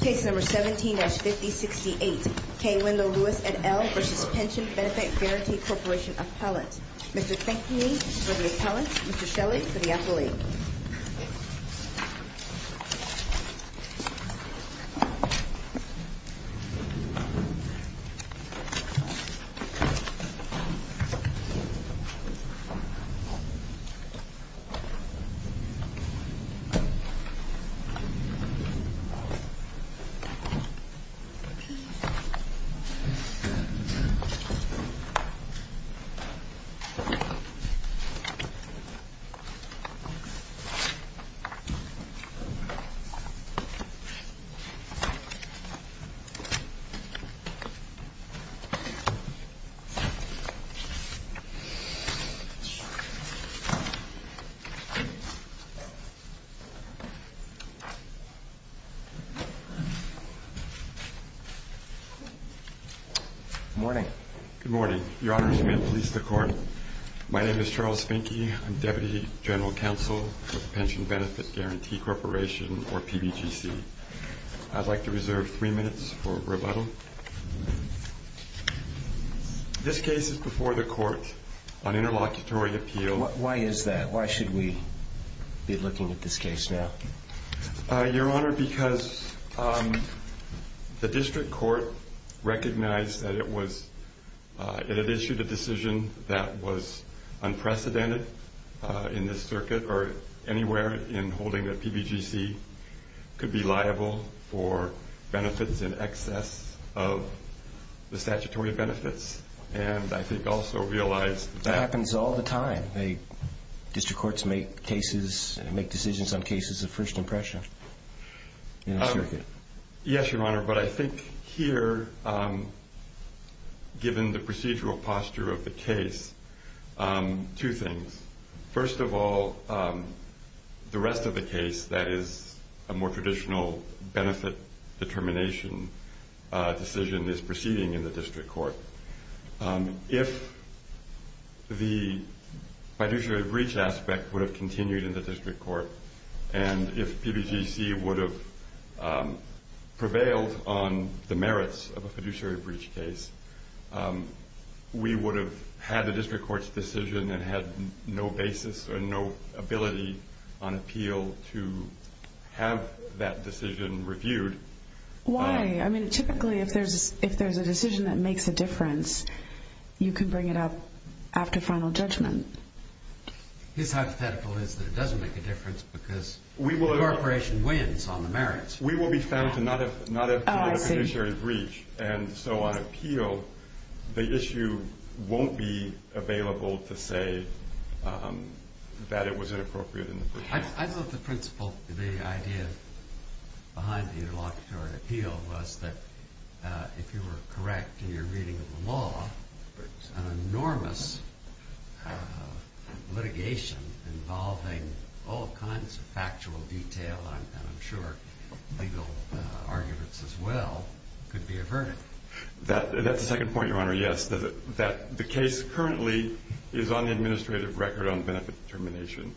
Case No. 17-5068, K. Wendell Lewis, et al. v. Pension Benefit Guarantee Corporation Appellant. Mr. Kinkney for the appellant, Mr. Shelley for the appellate. Mr. Kinkney for the appellant, Mr. Shelley for the appellant. Good morning. Good morning. Your Honor, I'm here to police the court. My name is Charles Finke. I'm Deputy General Counsel with Pension Benefit Guarantee Corporation, or PBGC. I'd like to reserve three minutes for rebuttal. This case is before the court on interlocutory appeal. Why is that? Why should we be looking at this case now? Your Honor, because the district court recognized that it had issued a decision that was unprecedented in this circuit or anywhere in holding that PBGC could be liable for benefits in excess of the statutory benefits, and I think also realized that that happens all the time. District courts make decisions on cases of first impression. Yes, Your Honor, but I think here, given the procedural posture of the case, two things. First of all, the rest of the case that is a more traditional benefit determination decision is proceeding in the district court. If the fiduciary breach aspect would have continued in the district court, and if PBGC would have prevailed on the merits of a fiduciary breach case, we would have had the district court's decision and had no basis or no ability on appeal to have that decision reviewed. Why? I mean, typically, if there's a decision that makes a difference, you can bring it up after final judgment. His hypothetical is that it doesn't make a difference because the corporation wins on the merits. We will be found to not have committed a fiduciary breach, and so on appeal, the issue won't be available to say that it was inappropriate in the first place. I thought the principle, the idea behind the interlocutory appeal was that if you were correct in your reading of the law, an enormous litigation involving all kinds of factual detail, and I'm sure legal arguments as well, could be averted. That's the second point, Your Honor, yes, that the case currently is on the administrative record on benefit determination.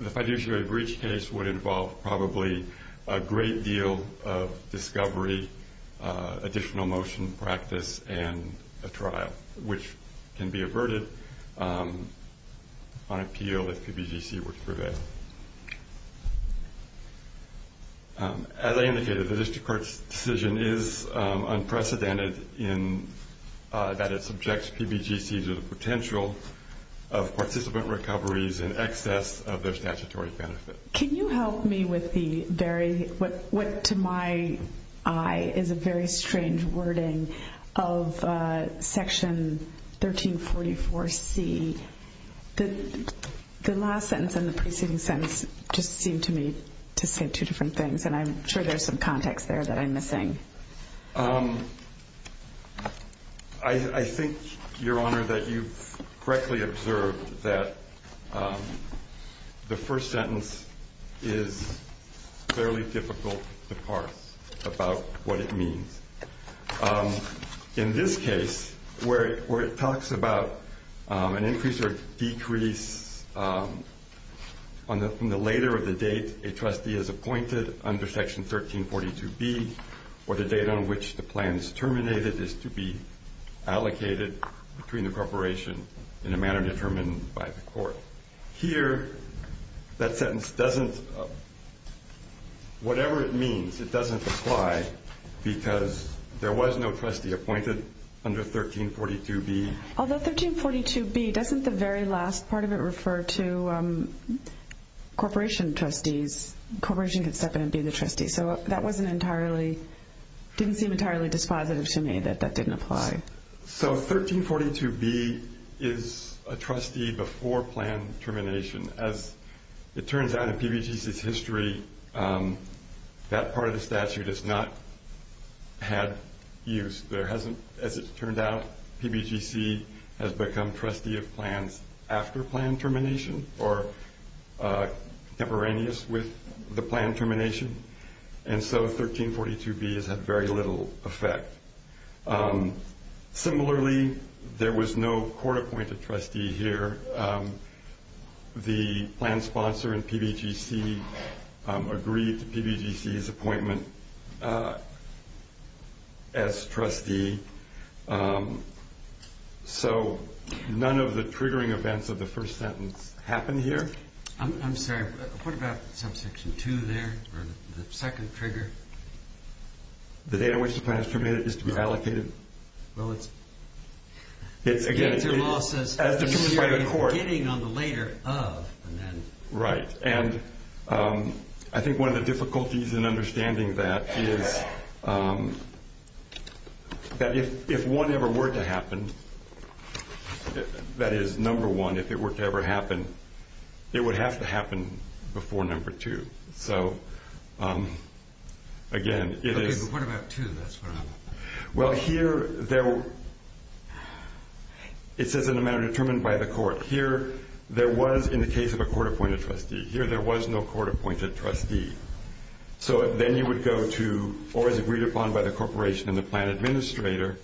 The fiduciary breach case would involve probably a great deal of discovery, additional motion practice, and a trial, which can be averted on appeal if PBGC were to prevail. As I indicated, the district court's decision is unprecedented in that it subjects PBGC to the potential of participant recoveries in excess of their statutory benefit. Can you help me with what, to my eye, is a very strange wording of section 1344C? The last sentence and the preceding sentence just seem to me to say two different things, and I'm sure there's some context there that I'm missing. I think, Your Honor, that you've correctly observed that the first sentence is fairly difficult to parse about what it means. In this case, where it talks about an increase or decrease on the later of the date a trustee is appointed under section 1342B, or the date on which the plan is terminated, is to be allocated between the corporation in a manner determined by the court. Here, that sentence doesn't, whatever it means, it doesn't apply because there was no trustee appointed under 1342B. Although 1342B, doesn't the very last part of it refer to corporation trustees? Corporation can step in and be the trustee. So that wasn't entirely, didn't seem entirely dispositive to me that that didn't apply. So 1342B is a trustee before plan termination. As it turns out in PBGC's history, that part of the statute has not had use. There hasn't, as it turned out, PBGC has become trustee of plans after plan termination or contemporaneous with the plan termination. And so 1342B has had very little effect. Similarly, there was no court appointed trustee here. The plan sponsor in PBGC agreed to PBGC's appointment as trustee. So none of the triggering events of the first sentence happened here. I'm sorry, what about subsection 2 there, or the second trigger? The date on which the plan is permitted is to be allocated. Well, it's... It's again... It's your law says... As determined by the court. ...getting on the later of and then... Right. And I think one of the difficulties in understanding that is that if one ever were to happen, that is, number one, if it were to ever happen, it would have to happen before number two. So again, it is... Okay, but what about two? That's what I'm... Well, here there... It says in a manner determined by the court. Here there was, in the case of a court appointed trustee, here there was no court appointed trustee. So then you would go to, or as agreed upon by the corporation and the plan administrator.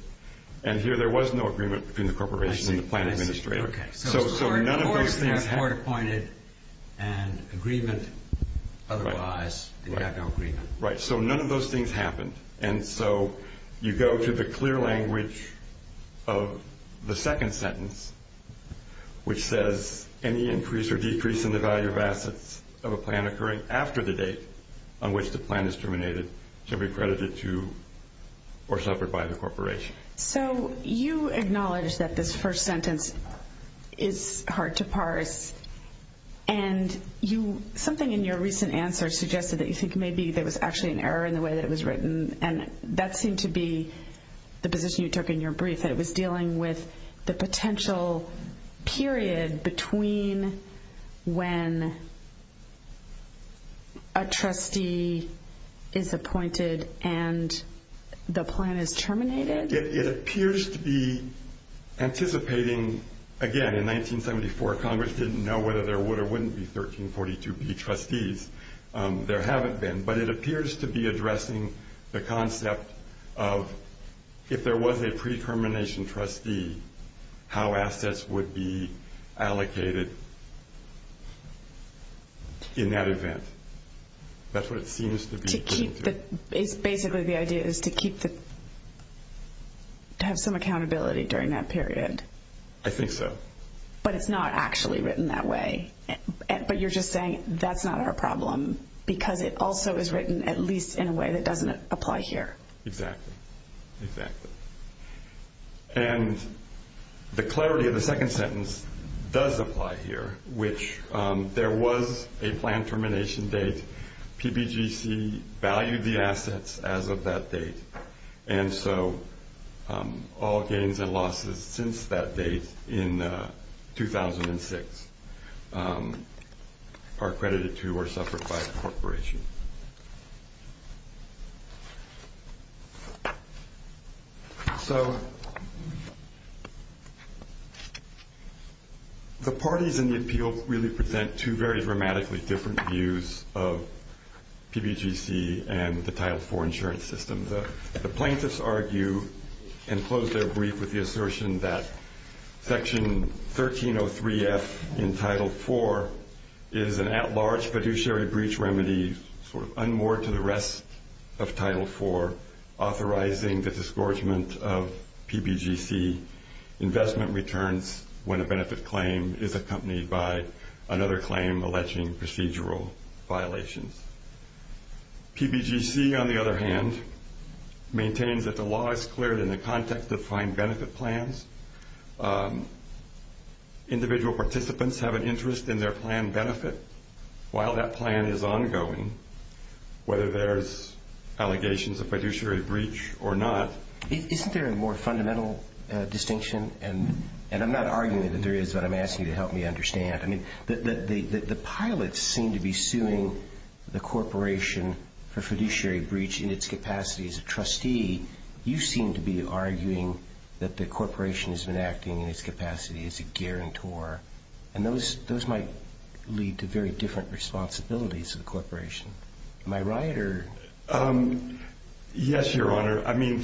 And here there was no agreement between the corporation and the plan administrator. I see, I see, okay. So none of those things... Court appointed and agreement otherwise, and you have no agreement. Right, so none of those things happened. And so you go to the clear language of the second sentence, which says, any increase or decrease in the value of assets of a plan occurring after the date on which the plan is terminated shall be credited to or suffered by the corporation. So you acknowledge that this first sentence is hard to parse. And something in your recent answer suggested that you think maybe there was actually an error in the way that it was written, and that seemed to be the position you took in your brief, that it was dealing with the potential period between when a trustee is appointed and the plan is terminated? It appears to be anticipating, again, in 1974, Congress didn't know whether there would or wouldn't be 1342B trustees. There haven't been. But it appears to be addressing the concept of if there was a pre-termination trustee, how assets would be allocated in that event. That's what it seems to be pointing to. Basically the idea is to have some accountability during that period. I think so. But it's not actually written that way. But you're just saying that's not our problem because it also is written at least in a way that doesn't apply here. Exactly. And the clarity of the second sentence does apply here, which there was a plan termination date. PBGC valued the assets as of that date. And so all gains and losses since that date in 2006 are credited to or suffered by the corporation. So the parties in the appeal really present two very dramatically different views of PBGC and the Title IV insurance system. The plaintiffs argue and close their brief with the assertion that Section 1303F in Title IV is an at-large fiduciary breach remedy sort of unmoored to the rest of Title IV, authorizing the disgorgement of PBGC investment returns when a benefit claim is accompanied by another claim alleging procedural violations. PBGC, on the other hand, maintains that the law is cleared in the context of fine benefit plans. Individual participants have an interest in their plan benefit while that plan is ongoing, whether there's allegations of fiduciary breach or not. Isn't there a more fundamental distinction? And I'm not arguing that there is, but I'm asking you to help me understand. I mean, the pilots seem to be suing the corporation for fiduciary breach in its capacity as a trustee. You seem to be arguing that the corporation has been acting in its capacity as a guarantor. And those might lead to very different responsibilities of the corporation. Am I right? Yes, Your Honor. I mean,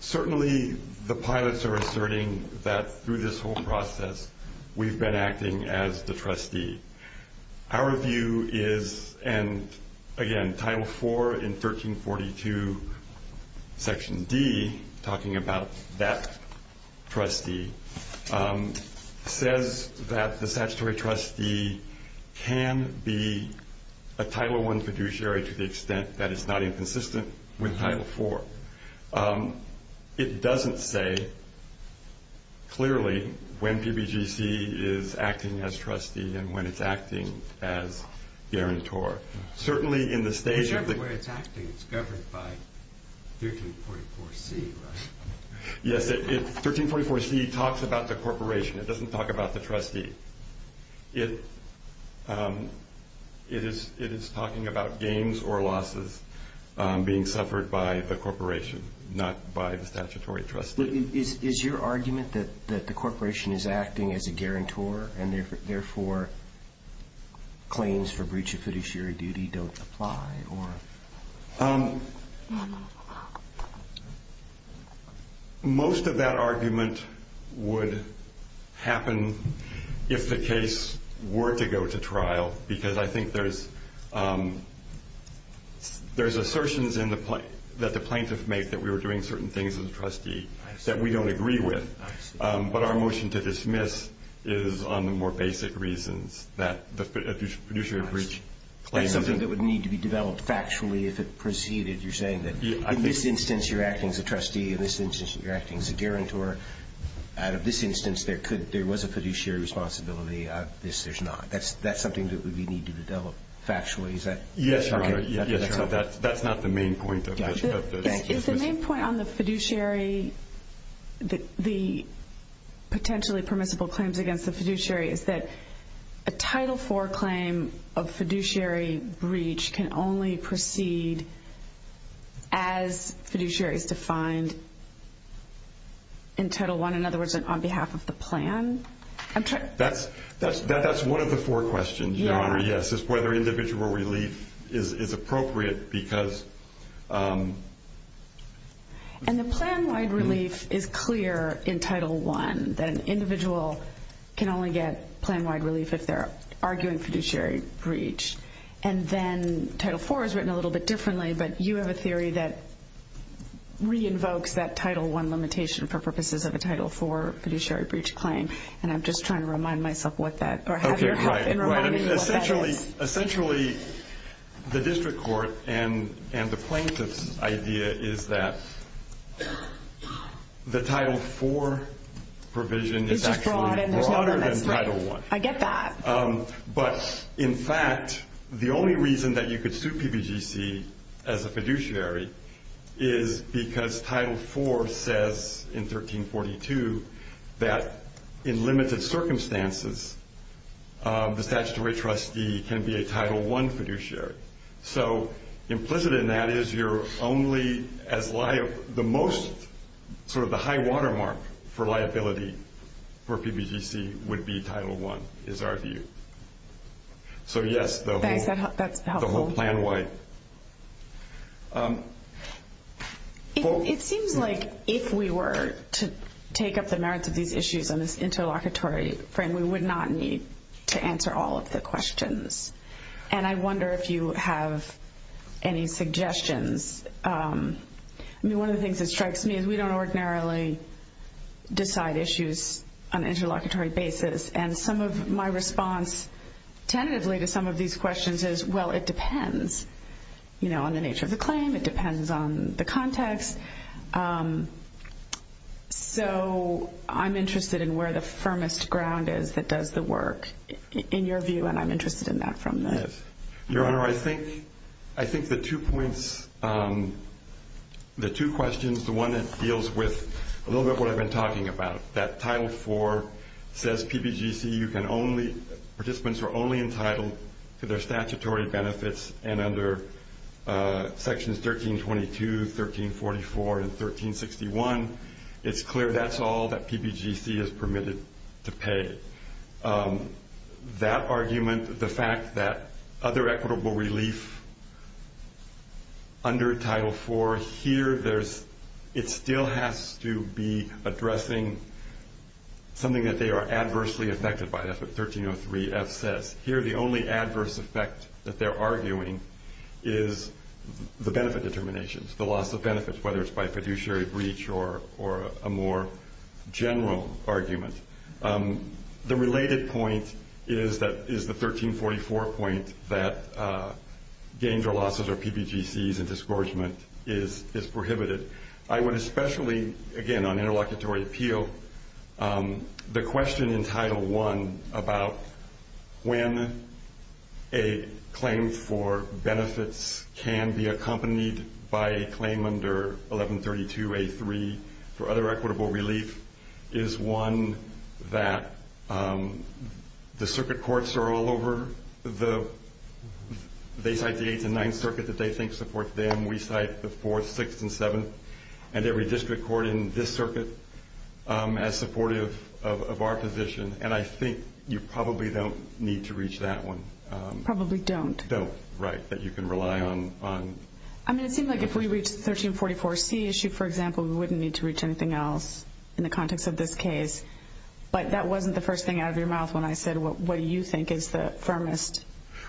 certainly the pilots are asserting that through this whole process we've been acting as the trustee. Our view is, and again, Title IV in 1342, Section D, talking about that trustee, says that the statutory trustee can be a Title I fiduciary to the extent that it's not inconsistent with Title IV. It doesn't say clearly when PBGC is acting as trustee and when it's acting as guarantor. Certainly in the stage of the- Whichever way it's acting, it's governed by 1344C, right? Yes, 1344C talks about the corporation. It doesn't talk about the trustee. It is talking about gains or losses being suffered by the corporation, not by the statutory trustee. Is your argument that the corporation is acting as a guarantor and therefore claims for breach of fiduciary duty don't apply? Most of that argument would happen if the case were to go to trial because I think there's assertions that the plaintiff made that we were doing certain things as a trustee that we don't agree with. But our motion to dismiss is on the more basic reasons that the fiduciary breach claims- That's something that would need to be developed factually if it proceeded. You're saying that in this instance, you're acting as a trustee. In this instance, you're acting as a guarantor. Out of this instance, there was a fiduciary responsibility. Out of this, there's not. That's something that would need to be developed factually. Is that- Yes, Your Honor. That's not the main point of this. Is the main point on the fiduciary, the potentially permissible claims against the fiduciary, is that a Title IV claim of fiduciary breach can only proceed as fiduciary is defined in Title I, in other words, on behalf of the plan? That's one of the four questions, Your Honor, yes, is whether individual relief is appropriate because- And the plan-wide relief is clear in Title I, that an individual can only get plan-wide relief if they're arguing fiduciary breach. And then Title IV is written a little bit differently, but you have a theory that re-invokes that Title I limitation for purposes of a Title IV fiduciary breach claim. And I'm just trying to remind myself what that- Essentially, the district court and the plaintiff's idea is that the Title IV provision is actually broader than Title I. I get that. But, in fact, the only reason that you could sue PBGC as a fiduciary is because Title IV says in 1342 that in limited circumstances, the statutory trustee can be a Title I fiduciary. So implicit in that is you're only as liable- The most sort of the high watermark for liability for PBGC would be Title I, is our view. So, yes, the whole- Thanks, that's helpful. The whole plan-wide. It seems like if we were to take up the merits of these issues on this interlocutory frame, we would not need to answer all of the questions. And I wonder if you have any suggestions. I mean, one of the things that strikes me is we don't ordinarily decide issues on an interlocutory basis. And some of my response tentatively to some of these questions is, well, it depends. You know, on the nature of the claim. It depends on the context. So I'm interested in where the firmest ground is that does the work, in your view. And I'm interested in that from the- Your Honor, I think the two points, the two questions, the one that deals with a little bit of what I've been talking about, that Title IV says PBGC, you can only- participants are only entitled to their statutory benefits. And under Sections 1322, 1344, and 1361, it's clear that's all that PBGC is permitted to pay. That argument, the fact that other equitable relief under Title IV, here there's- it still has to be addressing something that they are adversely affected by. That's what 1303F says. Here the only adverse effect that they're arguing is the benefit determinations, the loss of benefits, whether it's by fiduciary breach or a more general argument. The related point is the 1344 point that gains or losses or PBGCs and disgorgement is prohibited. I would especially, again, on interlocutory appeal, the question in Title I about when a claim for benefits can be accompanied by a claim under 1132A3 for other equitable relief is one that the circuit courts are all over. They cite the 8th and 9th Circuit that they think support them. We cite the 4th, 6th, and 7th, and every district court in this circuit as supportive of our position. And I think you probably don't need to reach that one. Probably don't. Don't, right, that you can rely on. I mean, it seems like if we reach the 1344C issue, for example, we wouldn't need to reach anything else in the context of this case. But that wasn't the first thing out of your mouth when I said, what do you think is the firmest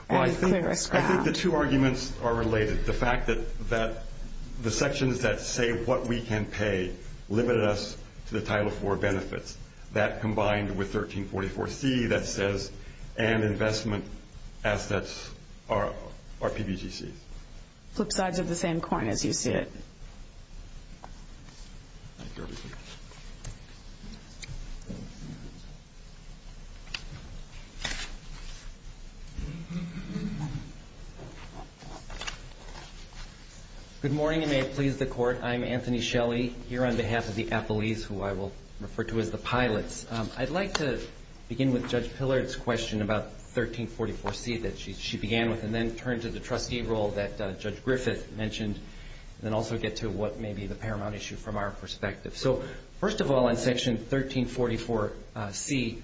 and clearest ground? I think the two arguments are related. The fact that the sections that say what we can pay limit us to the Title IV benefits. That combined with 1344C that says and investment assets are PBGCs. Flip sides of the same coin as you see it. Good morning, and may it please the Court. I'm Anthony Shelley here on behalf of the appellees who I will refer to as the pilots. I'd like to begin with Judge Pillard's question about 1344C that she began with and then turn to the trustee role that Judge Griffith mentioned and then also get to what may be the paramount issue from our perspective. So first of all, in Section 1344C,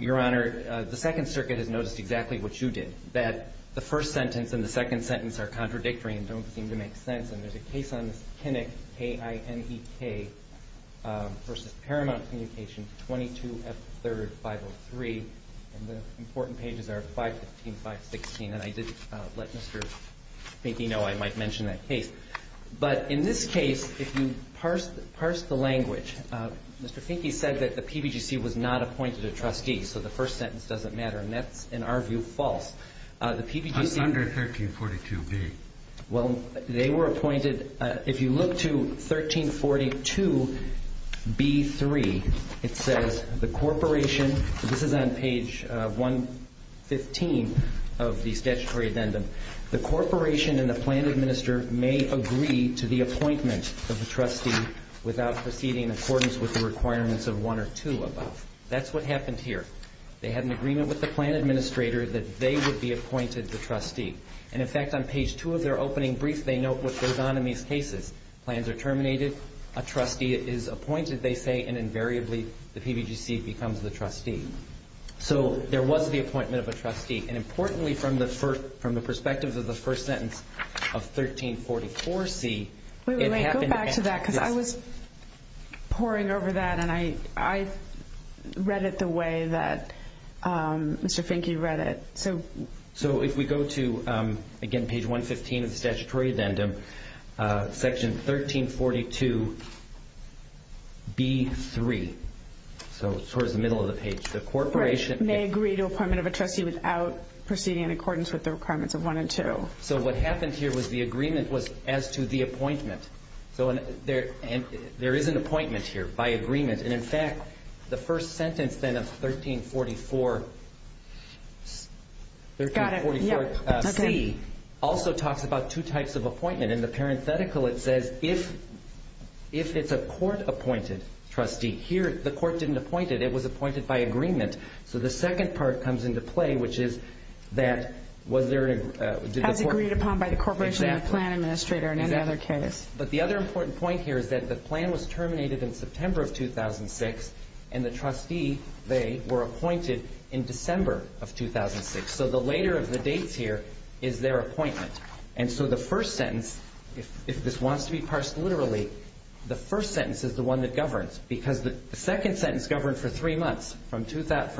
Your Honor, the 2nd Circuit has noticed exactly what you did, that the first sentence and the second sentence are contradictory and don't seem to make sense and there's a case on this KINEC, K-I-N-E-K, versus paramount communication 22F3rd 503. And the important pages are 515, 516. And I did let Mr. Finke know I might mention that case. But in this case, if you parse the language, Mr. Finke said that the PBGC was not appointed a trustee, so the first sentence doesn't matter. And that's, in our view, false. The PBGC… It's under 1342B. Well, they were appointed… If you look to 1342B3, it says, The corporation… This is on page 115 of the statutory addendum. The corporation and the plan administrator may agree to the appointment of the trustee without proceeding in accordance with the requirements of 1 or 2 above. That's what happened here. They had an agreement with the plan administrator that they would be appointed the trustee. And, in fact, on page 2 of their opening brief, they note what goes on in these cases. Plans are terminated, a trustee is appointed, they say, and invariably the PBGC becomes the trustee. So there was the appointment of a trustee. And importantly, from the perspective of the first sentence of 1344C… Wait, wait, wait. Go back to that because I was poring over that, and I read it the way that Mr. Finke read it. So if we go to, again, page 115 of the statutory addendum, section 1342B3, so towards the middle of the page. The corporation… May agree to appointment of a trustee without proceeding in accordance with the requirements of 1 and 2. So what happened here was the agreement was as to the appointment. So there is an appointment here by agreement. And, in fact, the first sentence then of 1344C also talks about two types of appointment. In the parenthetical, it says, if it's a court-appointed trustee. Here, the court didn't appoint it. It was appointed by agreement. So the second part comes into play, which is that… As agreed upon by the corporation and the plan administrator in any other case. But the other important point here is that the plan was terminated in September of 2006, and the trustee, they were appointed in December of 2006. So the later of the dates here is their appointment. And so the first sentence, if this wants to be parsed literally, the first sentence is the one that governs because the second sentence governed for three months, from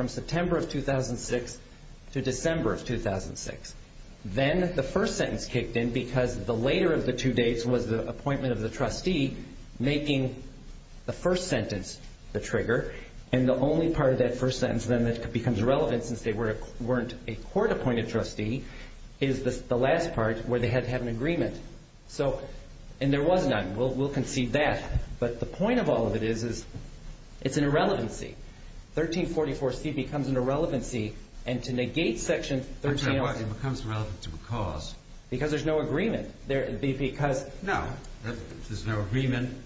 September of 2006 to December of 2006. Then the first sentence kicked in because the later of the two dates was the appointment of the trustee, making the first sentence the trigger. And the only part of that first sentence then that becomes relevant since they weren't a court-appointed trustee is the last part where they had to have an agreement. And there was none. We'll concede that. But the point of all of it is it's an irrelevancy. 1344C becomes an irrelevancy. And to negate Section 1303. It becomes relevant to a cause. Because there's no agreement. No, there's no agreement.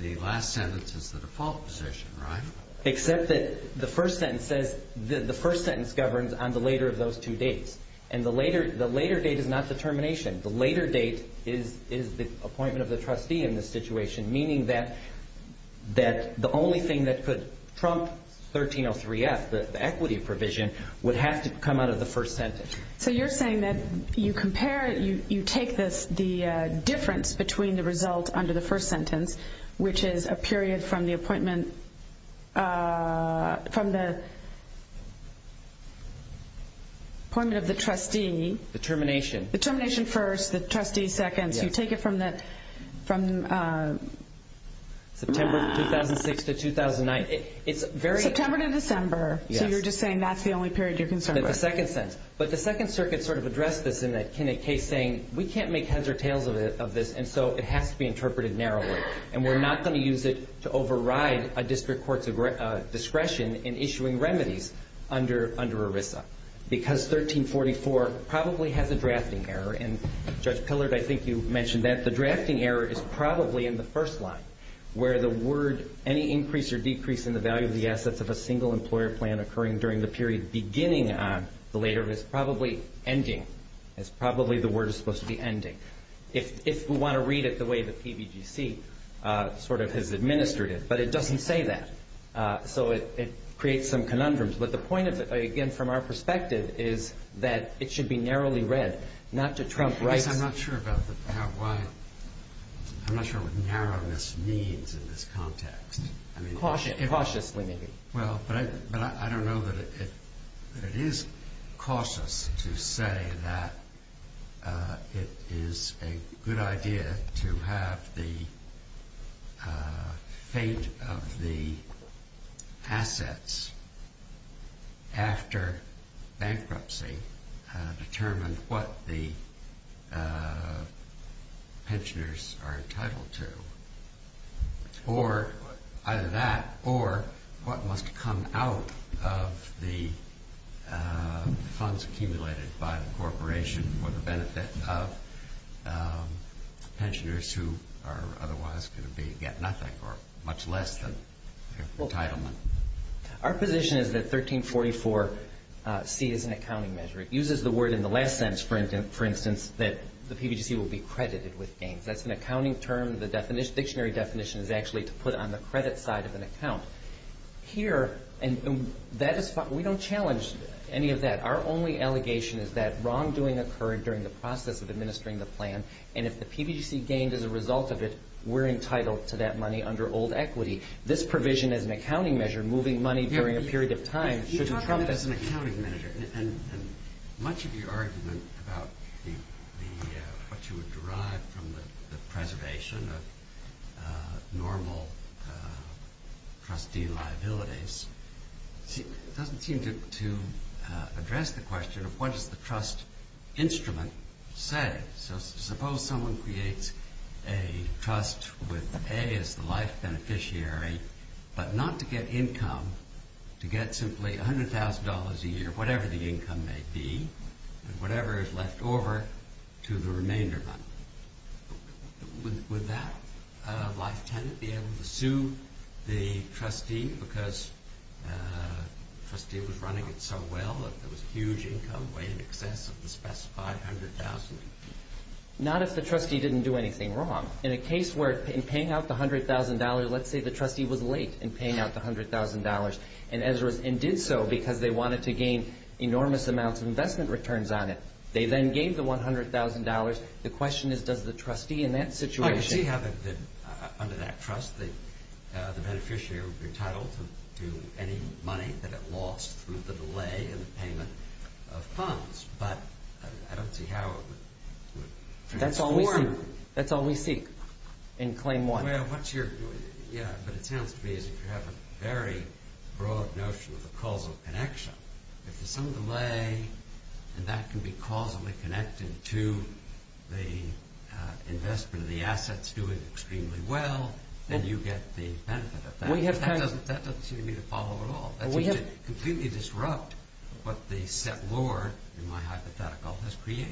The last sentence is the default position, right? Except that the first sentence governs on the later of those two dates. And the later date is not the termination. The later date is the appointment of the trustee in this situation, meaning that the only thing that could trump 1303F, the equity provision, would have to come out of the first sentence. So you're saying that you take the difference between the result under the first sentence, which is a period from the appointment of the trustee. The termination. The termination first, the trustee second. You take it from September 2006 to 2009. September to December. So you're just saying that's the only period you're concerned with. The second sentence. But the Second Circuit sort of addressed this in a case saying, we can't make heads or tails of this, and so it has to be interpreted narrowly. And we're not going to use it to override a district court's discretion in issuing remedies under ERISA. Because 1344 probably has a drafting error. And, Judge Pillard, I think you mentioned that. The drafting error is probably in the first line, where the word, any increase or decrease in the value of the assets of a single employer plan occurring during the period beginning on, the later is probably ending. It's probably the word is supposed to be ending. If we want to read it the way the PBGC sort of has administered it. But it doesn't say that. So it creates some conundrums. But the point, again, from our perspective is that it should be narrowly read, not to trump rights. I'm not sure what narrowness means in this context. Cautiously, maybe. Well, but I don't know that it is cautious to say that it is a good idea to have the fate of the assets after bankruptcy determine what the pensioners are entitled to. Either that or what must come out of the funds accumulated by the corporation for the benefit of pensioners who are otherwise going to get nothing or much less than entitlement. Our position is that 1344C is an accounting measure. It uses the word in the last sentence, for instance, that the PBGC will be credited with gains. That's an accounting term. The dictionary definition is actually to put it on the credit side of an account. Here, we don't challenge any of that. Our only allegation is that wrongdoing occurred during the process of administering the plan, and if the PBGC gained as a result of it, we're entitled to that money under old equity. This provision as an accounting measure, moving money during a period of time, shouldn't trump this. Much of your argument about what you would derive from the preservation of normal trustee liabilities doesn't seem to address the question of what does the trust instrument say. Suppose someone creates a trust with A as the life beneficiary, but not to get income, to get simply $100,000 a year, whatever the income may be, and whatever is left over to the remainder money. Would that life tenant be able to sue the trustee because the trustee was running it so well that there was a huge income, way in excess of the specified $100,000? Not if the trustee didn't do anything wrong. In a case where, in paying out the $100,000, let's say the trustee was late in paying out the $100,000, and did so because they wanted to gain enormous amounts of investment returns on it. They then gave the $100,000. The question is, does the trustee in that situation... I can see how, under that trust, the beneficiary would be entitled to any money that it lost through the delay in the payment of funds, but I don't see how it would... That's all we seek in Claim 1. Yeah, but it sounds to me as if you have a very broad notion of the causal connection. If there's some delay, and that can be causally connected to the investment of the assets doing extremely well, then you get the benefit of that. That doesn't seem to me to follow at all. That seems to completely disrupt what the set lore, in my hypothetical, has created.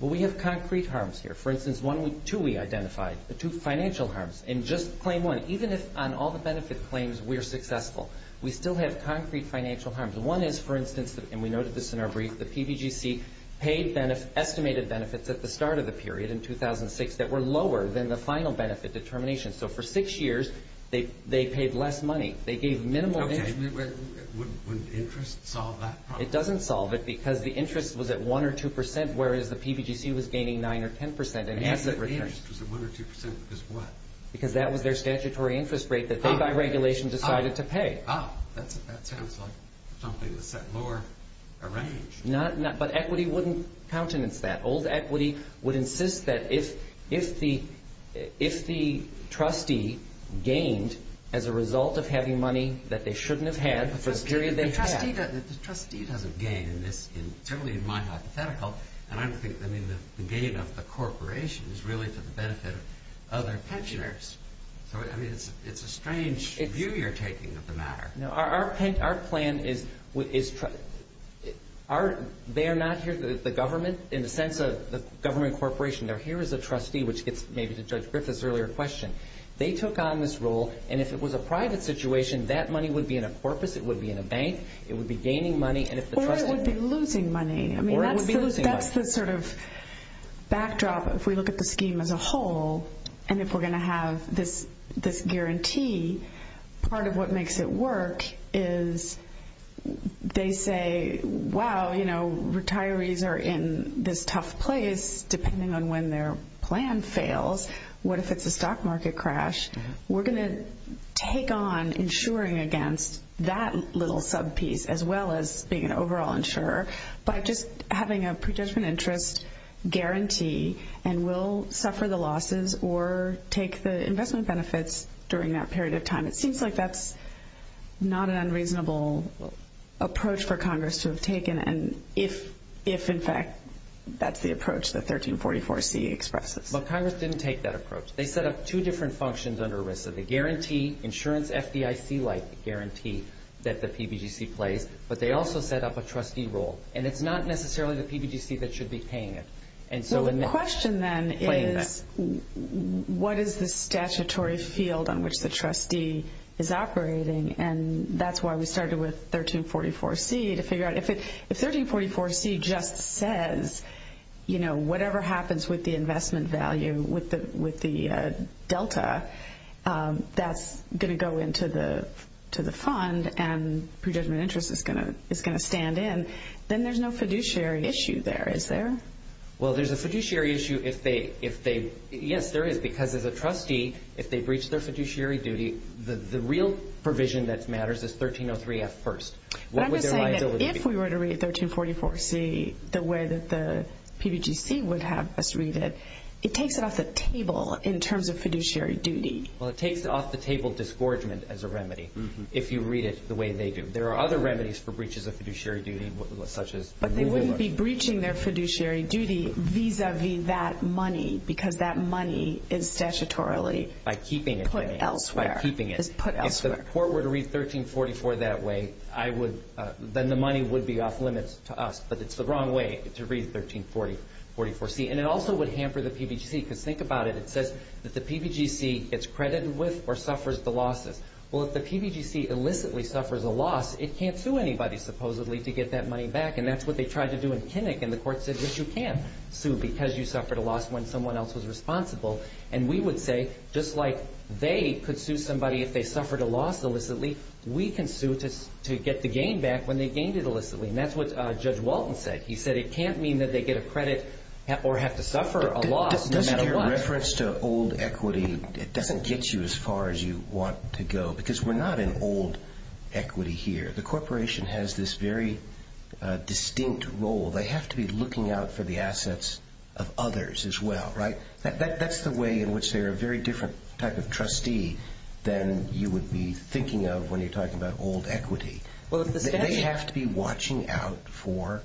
Well, we have concrete harms here. For instance, two we identified, two financial harms. In just Claim 1, even if on all the benefit claims we're successful, we still have concrete financial harms. One is, for instance, and we noted this in our brief, the PBGC paid estimated benefits at the start of the period, in 2006, that were lower than the final benefit determination. So for six years, they paid less money. They gave minimal... Okay, but wouldn't interest solve that problem? It doesn't solve it because the interest was at 1 or 2 percent, whereas the PBGC was gaining 9 or 10 percent in asset returns. The interest was at 1 or 2 percent because what? Because that was their statutory interest rate that they, by regulation, decided to pay. That sounds like something the set lore arranged. But equity wouldn't countenance that. Old equity would insist that if the trustee gained as a result of having money that they shouldn't have had for the period they had... The trustee doesn't gain in this, certainly in my hypothetical, and I don't think the gain of the corporation is really for the benefit of other pensioners. So, I mean, it's a strange view you're taking of the matter. No, our plan is... They're not here, the government, in the sense of the government corporation. They're here as a trustee, which gets maybe to Judge Griffith's earlier question. They took on this role, and if it was a private situation, that money would be in a corpus. It would be in a bank. It would be gaining money, and if the trustee... Or it would be losing money. Or it would be losing money. I mean, that's the sort of backdrop if we look at the scheme as a whole. And if we're going to have this guarantee, part of what makes it work is they say, wow, you know, retirees are in this tough place depending on when their plan fails. What if it's a stock market crash? We're going to take on insuring against that little sub-piece as well as being an overall insurer by just having a predetermined interest guarantee and will suffer the losses or take the investment benefits during that period of time. It seems like that's not an unreasonable approach for Congress to have taken, and if, in fact, that's the approach that 1344C expresses. Well, Congress didn't take that approach. They set up two different functions under ERISA. The guarantee, insurance FDIC-like guarantee that the PBGC plays, but they also set up a trustee role, and it's not necessarily the PBGC that should be paying it. Well, the question then is what is the statutory field on which the trustee is operating, and that's why we started with 1344C to figure out if 1344C just says, you know, whatever happens with the investment value with the delta that's going to go into the fund and predetermined interest is going to stand in, then there's no fiduciary issue there, is there? Well, there's a fiduciary issue if they – yes, there is, because as a trustee, if they breach their fiduciary duty, the real provision that matters is 1303F first. But I'm just saying that if we were to read 1344C the way that the PBGC would have us read it, it takes it off the table in terms of fiduciary duty. Well, it takes off-the-table disgorgement as a remedy if you read it the way they do. There are other remedies for breaches of fiduciary duty such as – But they wouldn't be breaching their fiduciary duty vis-à-vis that money because that money is statutorily put elsewhere. By keeping it. It's put elsewhere. If the court were to read 1344 that way, I would – then the money would be off-limits to us. But it's the wrong way to read 1344C. And it also would hamper the PBGC because think about it. It says that the PBGC gets credited with or suffers the losses. Well, if the PBGC illicitly suffers a loss, it can't sue anybody, supposedly, to get that money back. And that's what they tried to do in Kinnick. And the court said, yes, you can sue because you suffered a loss when someone else was responsible. And we would say, just like they could sue somebody if they suffered a loss illicitly, we can sue to get the gain back when they gained it illicitly. And that's what Judge Walton said. He said it can't mean that they get a credit or have to suffer a loss no matter what. Doesn't your reference to old equity – it doesn't get you as far as you want to go because we're not in old equity here. The corporation has this very distinct role. They have to be looking out for the assets of others as well, right? That's the way in which they're a very different type of trustee than you would be thinking of when you're talking about old equity. They have to be watching out for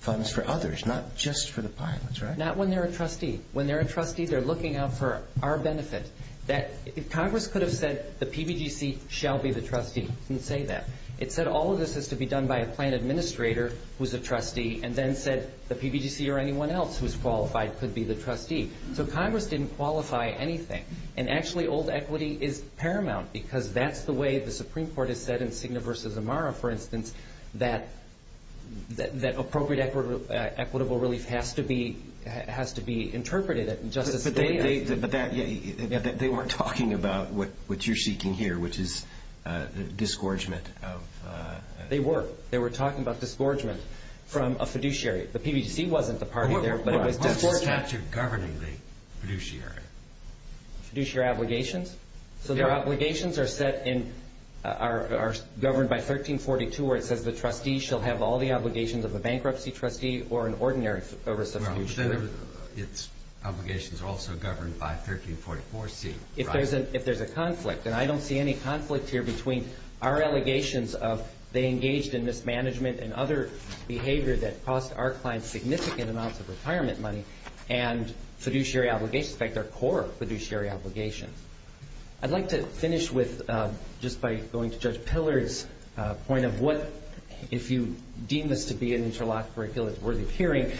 funds for others, not just for the pilots, right? Not when they're a trustee. When they're a trustee, they're looking out for our benefit. If Congress could have said the PBGC shall be the trustee, it wouldn't say that. It said all of this has to be done by a plan administrator who's a trustee and then said the PBGC or anyone else who's qualified could be the trustee. So Congress didn't qualify anything, and actually old equity is paramount because that's the way the Supreme Court has said in Cigna v. Amara, for instance, that appropriate equitable relief has to be interpreted. But they weren't talking about what you're seeking here, which is disgorgement. They were. They were talking about disgorgement from a fiduciary. The PBGC wasn't the party there, but it was disgorgement. What's the statute governing the fiduciary? Fiduciary obligations. So their obligations are governed by 1342 where it says the trustee shall have all the obligations of a bankruptcy trustee or an ordinary oversubstitution. Its obligations are also governed by 1344C, right? If there's a conflict, and I don't see any conflict here between our allegations of they engaged in mismanagement and other behavior that cost our clients significant amounts of retirement money and fiduciary obligations, in fact, their core fiduciary obligations. I'd like to finish just by going to Judge Pillard's point of what, if you deem this to be an interlocked curriculum that's worthy of hearing,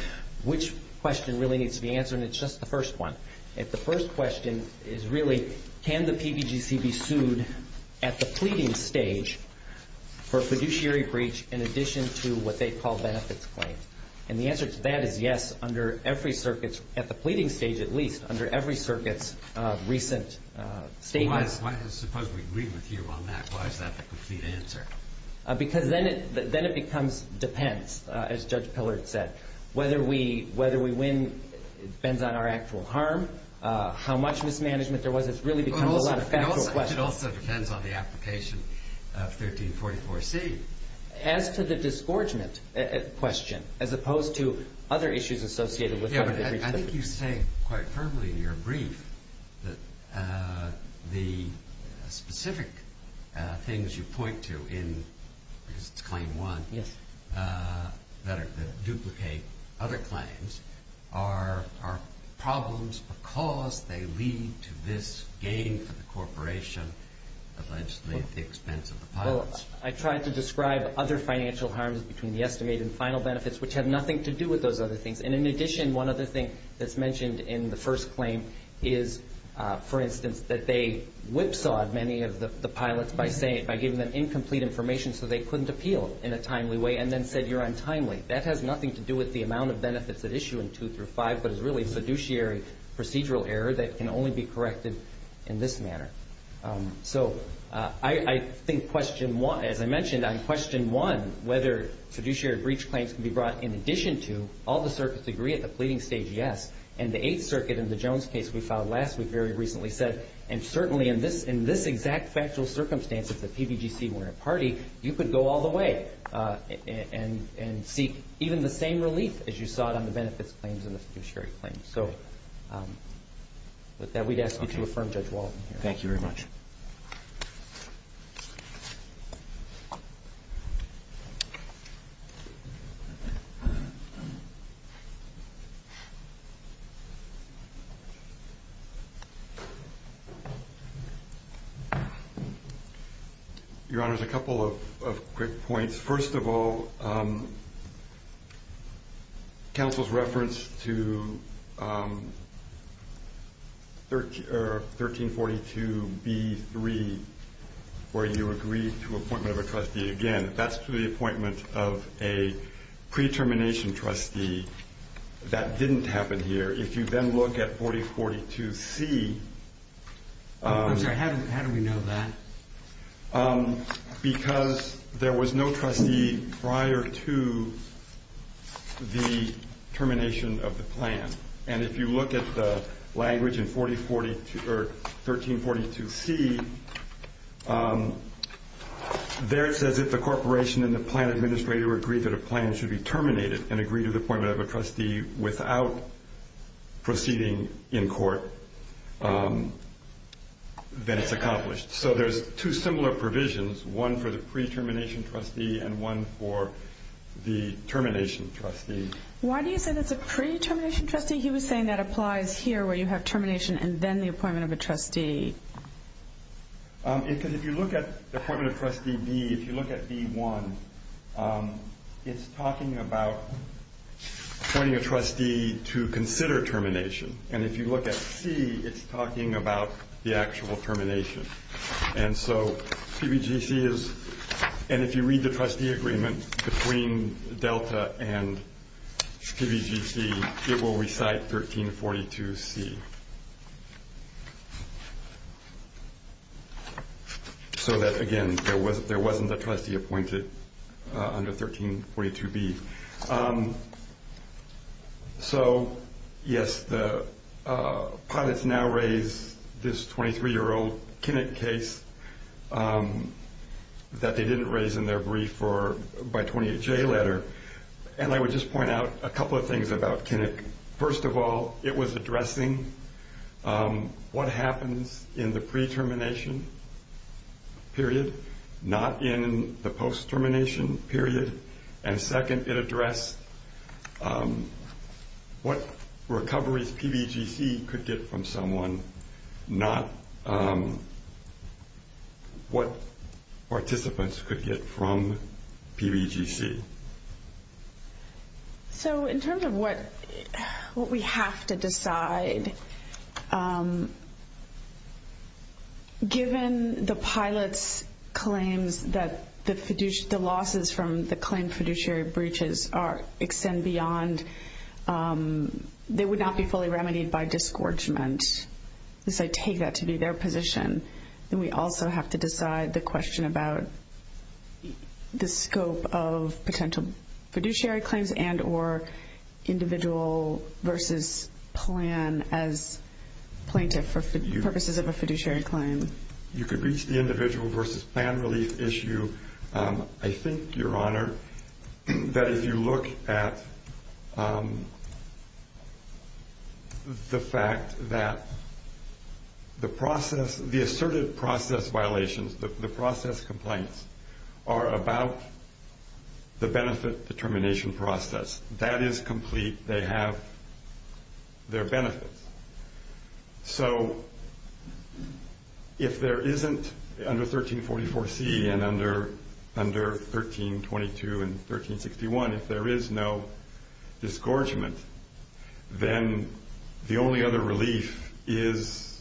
which question really needs to be answered, and it's just the first one. If the first question is really can the PBGC be sued at the pleading stage for fiduciary breach in addition to what they call benefits claims? And the answer to that is yes under every circuit, at the pleading stage at least, under every circuit's recent statements. Suppose we agree with you on that. Why is that the complete answer? Because then it becomes depends, as Judge Pillard said. Whether we win depends on our actual harm, how much mismanagement there was. It really becomes a lot of factual questions. It also depends on the application of 1344C. As to the disgorgement question, as opposed to other issues associated with having to breach the... I think you say quite firmly in your brief that the specific things you point to in Claim 1 that duplicate other claims are problems because they lead to this gain for the corporation, essentially at the expense of the pilots. I tried to describe other financial harms between the estimated and final benefits, which have nothing to do with those other things. In addition, one other thing that's mentioned in the first claim is, for instance, that they whipsawed many of the pilots by giving them incomplete information so they couldn't appeal in a timely way, and then said you're untimely. That has nothing to do with the amount of benefits at issue in 2 through 5, but is really a fiduciary procedural error that can only be corrected in this manner. So I think, as I mentioned, on Question 1, whether fiduciary breach claims can be brought in addition to all the circuits agree at the pleading stage, yes. And the Eighth Circuit in the Jones case we filed last week very recently said, and certainly in this exact factual circumstance, if the PBGC weren't a party, you could go all the way and seek even the same relief as you sought on the benefits claims and the fiduciary claims. So with that, we'd ask you to affirm, Judge Walton. Thank you very much. Your Honor, there's a couple of quick points. First of all, counsel's reference to 1342B3, where you agreed to appointment of a trustee again, that's to the appointment of a pre-termination trustee. That didn't happen here. If you then look at 4042C. How do we know that? Because there was no trustee prior to the termination of the plan. And if you look at the language in 1342C, there it says if the corporation and the plan administrator agree that a plan should be terminated and agree to the appointment of a trustee without proceeding in court, then it's accomplished. So there's two similar provisions, one for the pre-termination trustee and one for the termination trustee. Why do you say that's a pre-termination trustee? He was saying that applies here where you have termination and then the appointment of a trustee. Because if you look at the appointment of trustee B, if you look at B1, it's talking about appointing a trustee to consider termination. And if you look at C, it's talking about the actual termination. And so PBGC is, and if you read the trustee agreement between Delta and PBGC, it will recite 1342C. So that, again, there wasn't a trustee appointed under 1342B. So, yes, the pilots now raise this 23-year-old Kinnick case that they didn't raise in their brief by 28J letter. And I would just point out a couple of things about Kinnick. First of all, it was addressing what happens in the pre-termination period, not in the post-termination period. And second, it addressed what recoveries PBGC could get from someone, not what participants could get from PBGC. So in terms of what we have to decide, given the pilots' claims that the losses from the claimed fiduciary breaches extend beyond, they would not be fully remedied by disgorgement. So I take that to be their position. Then we also have to decide the question about the scope of potential fiduciary claims and or individual versus plan as plaintiff for purposes of a fiduciary claim. You could reach the individual versus plan relief issue. I think, Your Honor, that if you look at the fact that the process, the asserted process violations, the process complaints, are about the benefit determination process. That is complete. They have their benefits. So if there isn't under 1344C and under 1322 and 1361, if there is no disgorgement, then the only other relief is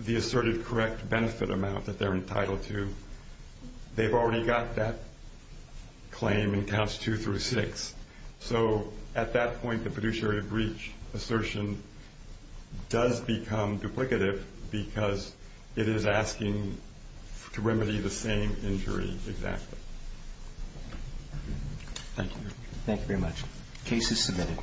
the asserted correct benefit amount that they're entitled to. They've already got that claim in counts two through six. So at that point, the fiduciary breach assertion does become duplicative because it is asking to remedy the same injury exactly. Thank you. Thank you very much. Case is submitted.